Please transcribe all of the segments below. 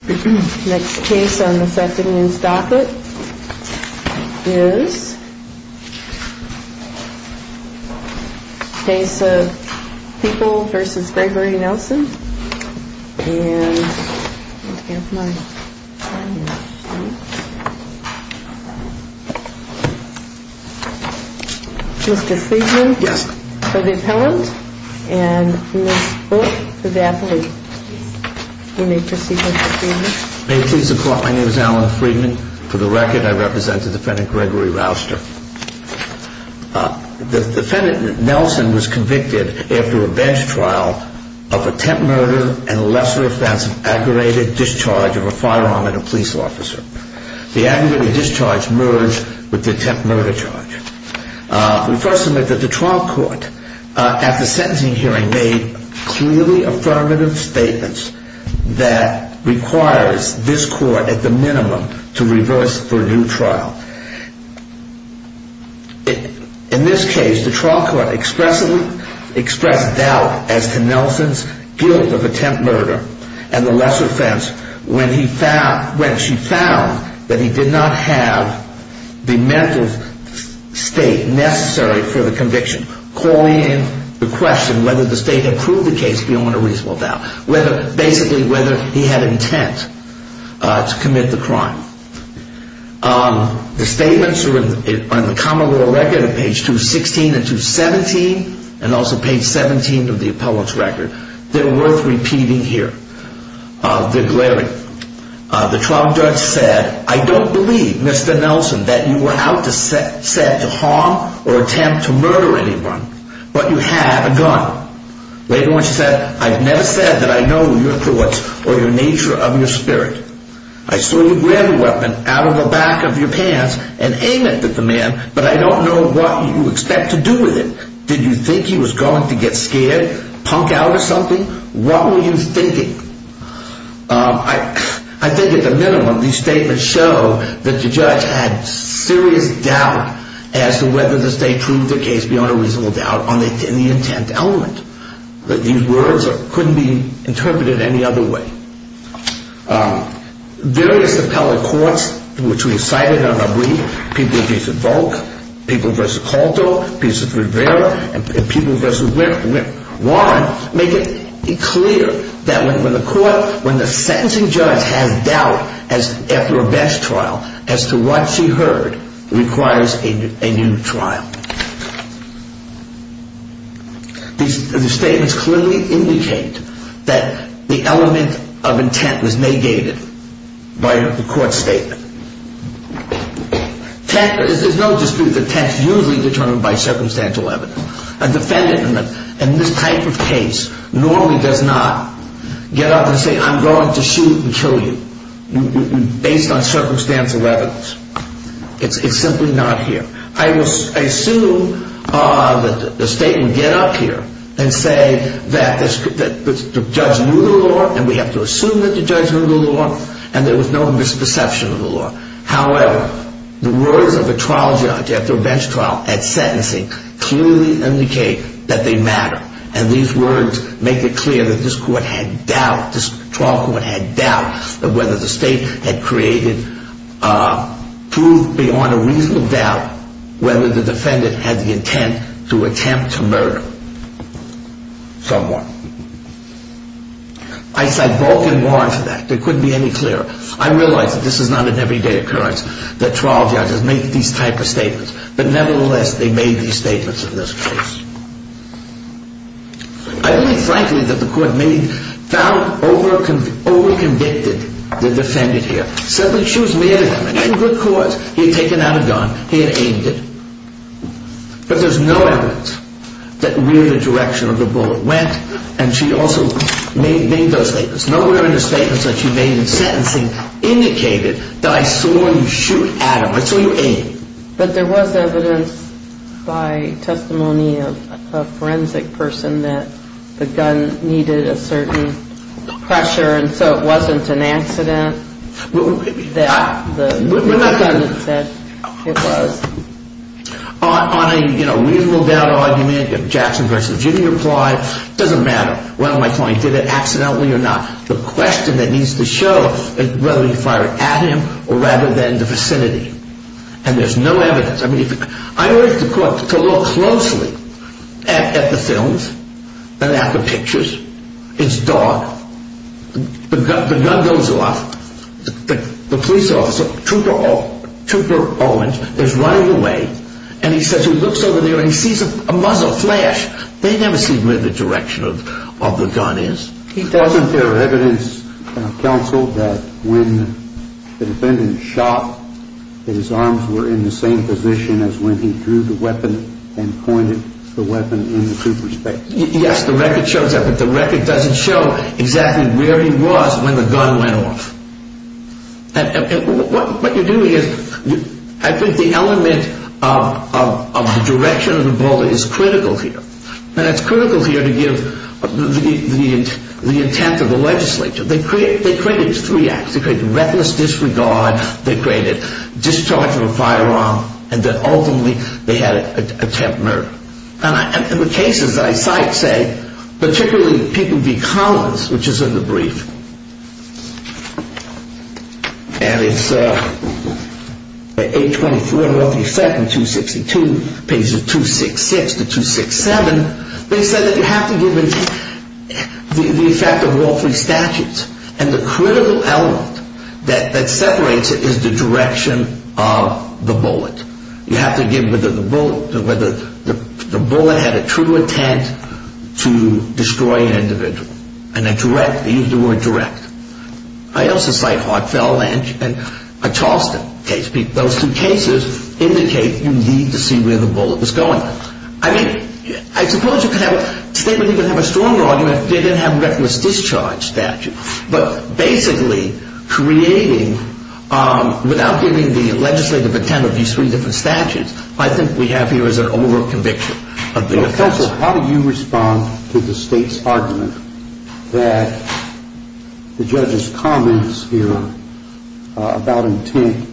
Next case on the 2nd News Docket is a case of People v. Gregory Nelson and Mr. Siegman for the appellant and Ms. Book for the athlete. May it please the court, my name is Alan Friedman. For the record, I represent the defendant Gregory Rouster. The defendant Nelson was convicted after a bench trial of attempt murder and a lesser offense of aggravated discharge of a firearm at a police officer. The aggravated discharge merged with the attempt murder charge. We first submit that the trial court at the sentencing hearing made clearly affirmative statements that requires this court at the minimum to reverse for a new trial. In this case, the trial court expressed doubt as to Nelson's guilt of attempt murder and the lesser offense when she found that he did not have the mental state necessary for the conviction. The statements are in the common law record of page 216 and 217 and also page 17 of the appellant's record. The trial judge said, I don't believe, Mr. Nelson, that you were out to harm or attempt to murder anyone, but you had a gun. Later on she said, I've never said that I know your thoughts or the nature of your spirit. I saw you grab a weapon out of the back of your pants and aim it at the man, but I don't know what you expect to do with it. Did you think he was going to get scared, punk out or something? What were you thinking? I think at the minimum these statements show that the judge had serious doubt as to whether the state proved their case beyond a reasonable doubt in the intent element. These words couldn't be interpreted any other way. Various appellate courts, which we have cited on our brief, people in cases of Volk, people versus Caldo, people versus Rivera, and people versus Warren, make it clear that when the court, when the sentencing judge has doubt after a best trial as to what she heard requires a new trial. These statements clearly indicate that the element of intent was negated by the court statement. There's no dispute that intent is usually determined by circumstantial evidence. A defendant in this type of case normally does not get up and say, I'm going to shoot and kill you based on circumstantial evidence. It's simply not here. I assume that the state would get up here and say that the judge knew the law, and we have to assume that the judge knew the law, and there was no misperception of the law. However, the words of a trial judge after a bench trial at sentencing clearly indicate that they matter. And these words make it clear that this court had doubt, this trial court had doubt of whether the state had created proof beyond a reasonable doubt whether the defendant had the intent to attempt to murder someone. I cite Volk and Warren for that. It couldn't be any clearer. I realize that this is not an everyday occurrence that trial judges make these type of statements. But nevertheless, they made these statements in this case. I believe, frankly, that the court may have found over-convicted the defendant here. Said that she was made a good cause. He had taken out a gun. He had aimed it. But there's no evidence that really the direction of the bullet went, and she also made those statements. Nowhere in the statements that she made in sentencing indicated that I saw you shoot at him. I saw you aim. But there was evidence by testimony of a forensic person that the gun needed a certain pressure, and so it wasn't an accident that the defendant said it was. On a reasonable doubt argument, Jackson v. Jimmy replied, it doesn't matter whether my client did it accidentally or not. The question that needs to show is whether you fired at him or rather than the vicinity. And there's no evidence. I urge the court to look closely at the films and at the pictures. It's dark. The gun goes off. The police officer, Trooper Owens, is running away, and he says he looks over there and he sees a muzzle flash. They never see where the direction of the gun is. Wasn't there evidence, counsel, that when the defendant shot that his arms were in the same position as when he drew the weapon and pointed the weapon in the trooper's face? Yes, the record shows that, but the record doesn't show exactly where he was when the gun went off. And what you're doing is, I think the element of the direction of the bullet is critical here. And it's critical here to give the intent of the legislature. They created three acts. They created reckless disregard, they created discharge of a firearm, and then ultimately they had an attempt murder. And the cases that I cite say, particularly People v. Collins, which is in the brief, and it's 824, the effect in 262, pages 266 to 267, they said that you have to give the effect of all three statutes. And the critical element that separates it is the direction of the bullet. You have to give whether the bullet had a true intent to destroy an individual. And a direct, they used the word direct. I also cite Hartfell Lynch and a Charleston case. Those two cases indicate you need to see where the bullet was going. I mean, I suppose you could have a statement, you could have a stronger argument if they didn't have reckless discharge statute. But basically creating, without giving the legislative intent of these three different statutes, I think we have here is an overconviction of the offense. Counsel, how do you respond to the state's argument that the judge's comments here about intent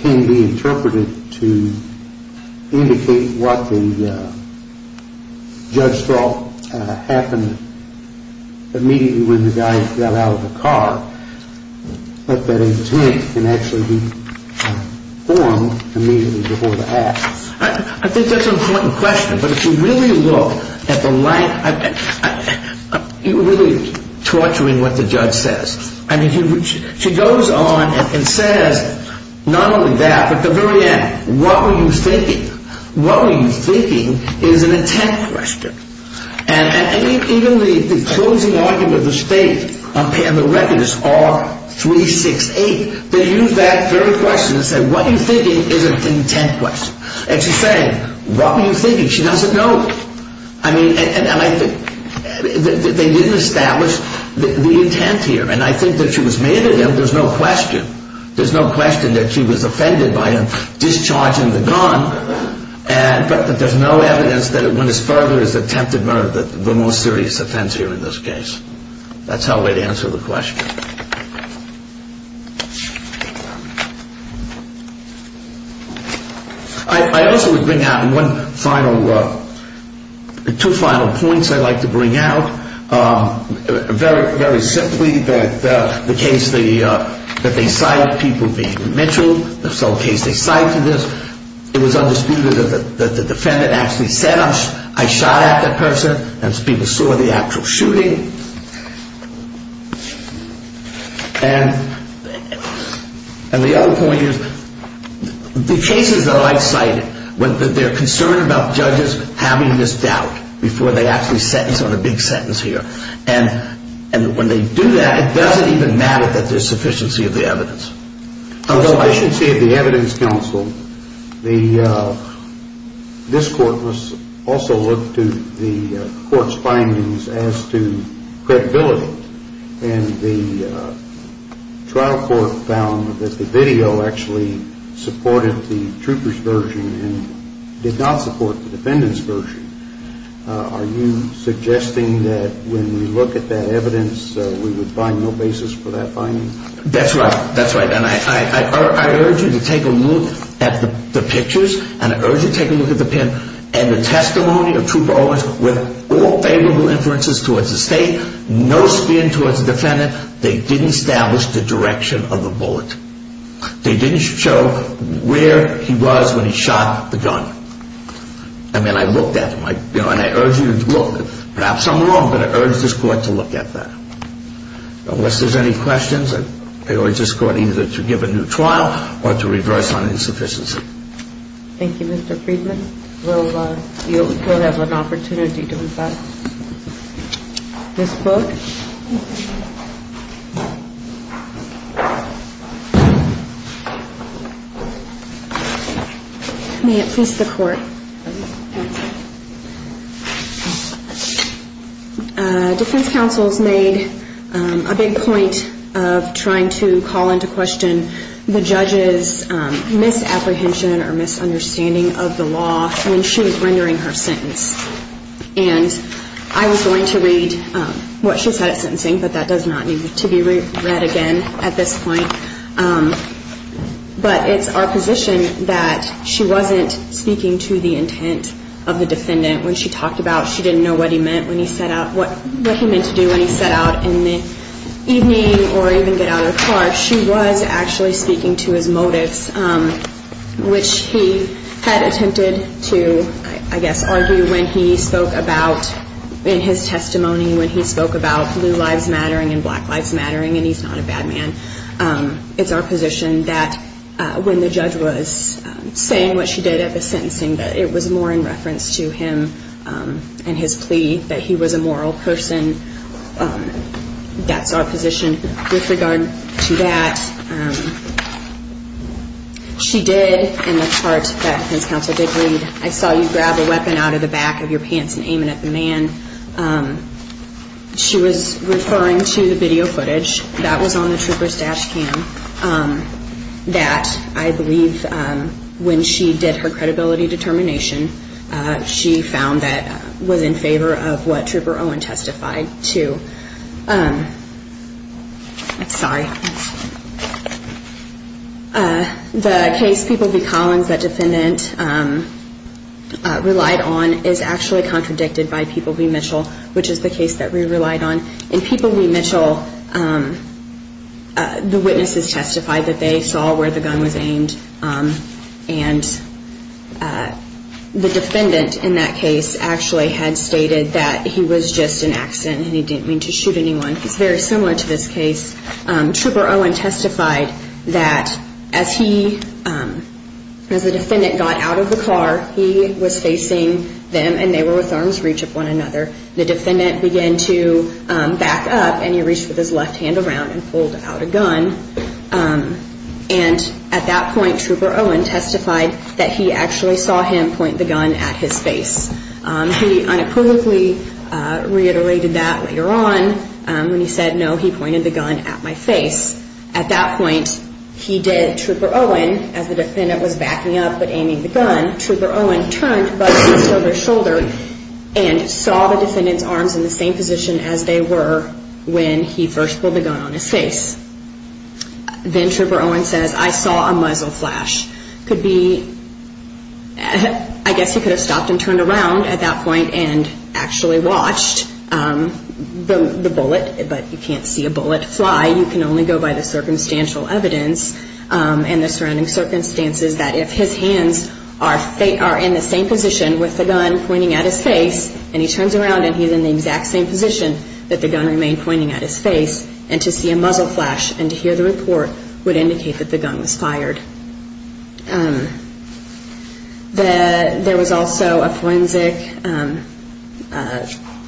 can be interpreted to indicate what the judge thought happened immediately when the guy got out of the car, but that intent can actually be formed immediately before the act? I think that's an important question. But if you really look at the line, you're really torturing what the judge says. I mean, she goes on and says not only that, but at the very end, what were you thinking? What were you thinking is an intent question. And even the closing argument of the state on the record is R368. They used that very question and said what you're thinking is an intent question. And she's saying, what were you thinking? She doesn't know. I mean, and I think they didn't establish the intent here. And I think that she was mad at him. There's no question. There's no question that she was offended by him discharging the gun. But there's no evidence that it went as far as attempted murder, the most serious offense here in this case. That's how I would answer the question. I also would bring out one final, two final points I'd like to bring out. Very simply, the case that they cite, people being Mitchell, the case they cite for this, it was undisputed that the defendant actually said, I shot at that person. And people saw the actual shooting. And the other point is the cases that I've cited, they're concerned about judges having this doubt before they actually sentence on a big sentence here. And when they do that, it doesn't even matter that there's sufficiency of the evidence. The sufficiency of the evidence, counsel, this court also looked to the court's findings as to credibility and the trial court found that the video actually supported the trooper's version and did not support the defendant's version. Are you suggesting that when we look at that evidence, we would find no basis for that finding? That's right. That's right. And I urge you to take a look at the pictures and I urge you to take a look at the pen and the testimony of Trooper Owens with all favorable inferences towards the state, no spin towards the defendant. They didn't establish the direction of the bullet. They didn't show where he was when he shot the gun. I mean, I looked at them and I urge you to look. Perhaps I'm wrong, but I urge this court to look at that. Unless there's any questions, I urge this court either to give a new trial or to reverse on insufficiency. Thank you, Mr. Friedman. We'll have an opportunity to revise this book. Defense counsel has made a big point of trying to call into question the judge's misapprehension or misunderstanding of the law when she was rendering her sentence. And I was going to read what she said at sentencing, but that does not need to be read again at this point. But it's our position that she wasn't speaking to the intent of the defendant when she talked about she didn't know what he meant when he set out, what he meant to do when he set out in the evening or even get out of the car. She was actually speaking to his motives, which he had attempted to, I guess, argue when he spoke about in his testimony when he spoke about blue lives mattering and black lives mattering and he's not a bad man. It's our position that when the judge was saying what she did at the sentencing, that it was more in reference to him and his plea that he was a moral person. That's our position. With regard to that, she did in the part that defense counsel did read, I saw you grab a weapon out of the back of your pants and aim it at the man. She was referring to the video footage that was on the trooper's dash cam that I believe when she did her credibility determination, she found that was in favor of what Trooper Owen testified to. Sorry. The case, People v. Collins, that defendant relied on is actually contradicted by People v. Mitchell, which is the case that we relied on. In People v. Mitchell, the witnesses testified that they saw where the gun was aimed and the defendant in that case actually had stated that he was just an accident and he didn't mean to shoot anyone. It's very similar to this case. Trooper Owen testified that as he, as the defendant got out of the car, he was facing them and they were with arm's reach of one another. The defendant began to back up and he reached with his left hand around and pulled out a gun. And at that point, Trooper Owen testified that he actually saw him point the gun at his face. He unequivocally reiterated that later on when he said, no, he pointed the gun at my face. At that point, he did, Trooper Owen, as the defendant was backing up but aiming the gun, Trooper Owen turned by his shoulder and saw the defendant's arms in the same position as they were when he first pulled the gun on his face. Then Trooper Owen says, I saw a muzzle flash. Could be, I guess he could have stopped and turned around at that point and actually watched the bullet, but you can't see a bullet fly. You can only go by the circumstantial evidence and the surrounding circumstances that if his hands are in the same position with the gun pointing at his face and he turns around and he's in the exact same position that the gun remained pointing at his face and to see a muzzle flash and to hear the report would indicate that the gun was fired. There was also a forensic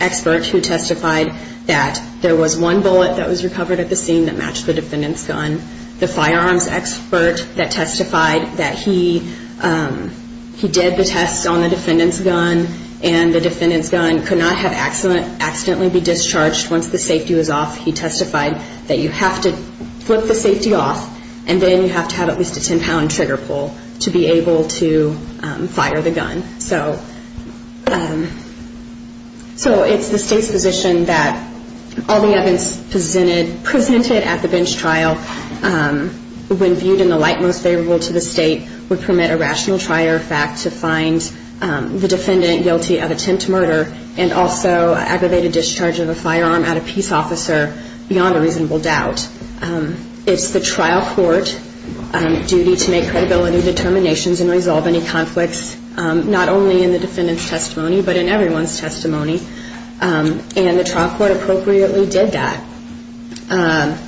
expert who testified that there was one bullet that was recovered at the scene that matched the defendant's gun. The firearms expert that testified that he did the test on the defendant's gun and the defendant's gun could not have accidentally been discharged once the safety was off. He testified that you have to flip the safety off and then you have to have at least a 10-pound trigger pull to be able to fire the gun. So it's the state's position that all the evidence presented at the bench trial when viewed in the light most favorable to the state would permit a rational trial or fact to find the defendant guilty of attempt to murder and also aggravated discharge of a firearm at a peace officer beyond a reasonable doubt. It's the trial court duty to make credibility determinations and resolve any conflicts, not only in the defendant's testimony, but in everyone's testimony. And the trial court appropriately did that.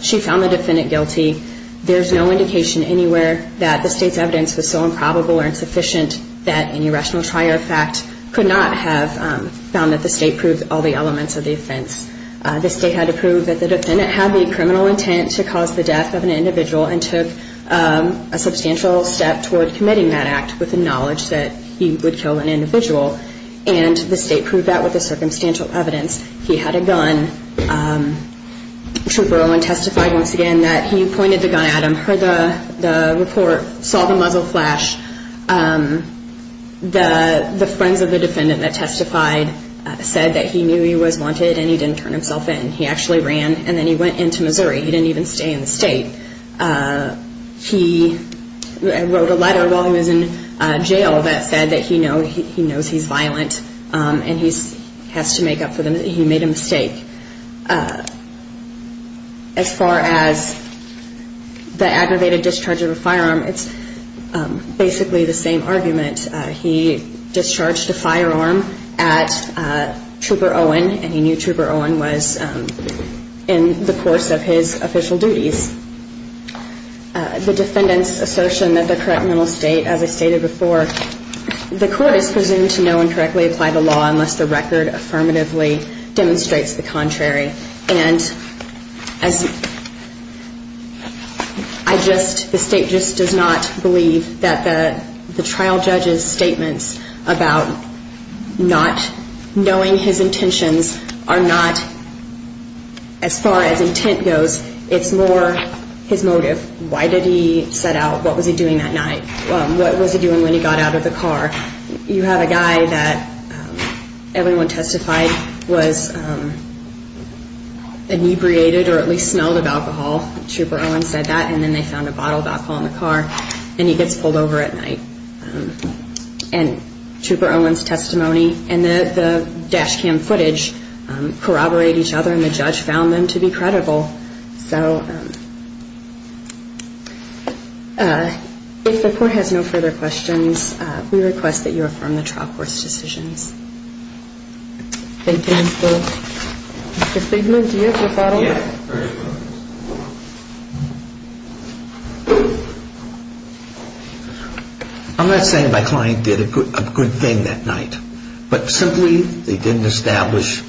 She found the defendant guilty. There's no indication anywhere that the state's evidence was so improbable or insufficient that any rational trial or fact could not have found that the state proved all the elements of the offense. The state had to prove that the defendant had the criminal intent to cause the death of an individual and took a substantial step toward committing that act with the knowledge that he would kill an individual. And the state proved that with the circumstantial evidence. He had a gun. Trooper Owen testified once again that he pointed the gun at him, heard the report, saw the muzzle flash. The friends of the defendant that testified said that he knew he was wanted and he didn't turn himself in. He actually ran and then he went into Missouri. He didn't even stay in the state. He wrote a letter while he was in jail that said that he knows he's violent and he made a mistake. As far as the aggravated discharge of a firearm, it's basically the same argument. He discharged a firearm at Trooper Owen and he knew Trooper Owen was in the course of his official duties. The defendant's assertion that the criminal state, as I stated before, the court is presumed to know and correctly apply the law unless the record affirmatively demonstrates the contrary. And the state just does not believe that the trial judge's statements about not knowing his intentions are not, as far as intent goes, it's more his motive. Why did he set out? What was he doing that night? What was he doing when he got out of the car? You have a guy that everyone testified was inebriated or at least smelled of alcohol. Trooper Owen said that and then they found a bottle of alcohol in the car and he gets pulled over at night. And Trooper Owen's testimony and the dash cam footage corroborate each other and the judge found them to be credible. So if the court has no further questions, we request that you affirm the trial court's decisions. Thank you. Mr. Stiglitz, do you have a follow-up? Yes. I'm not saying my client did a good thing that night, but simply they didn't establish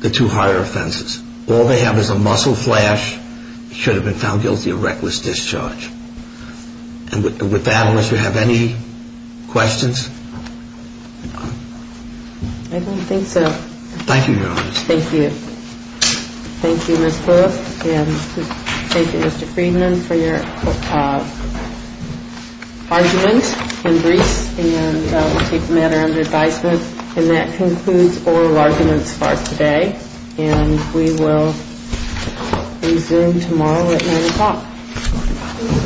the two higher offenses. All they have is a muscle flash. He should have been found guilty of reckless discharge. And with that, unless you have any questions? I don't think so. Thank you, Your Honor. Thank you. Thank you, Ms. Lewis. And thank you, Mr. Friedman, for your argument and briefs. And we'll take the matter under advisement. And that concludes oral arguments for today. And we will resume tomorrow at 9 o'clock.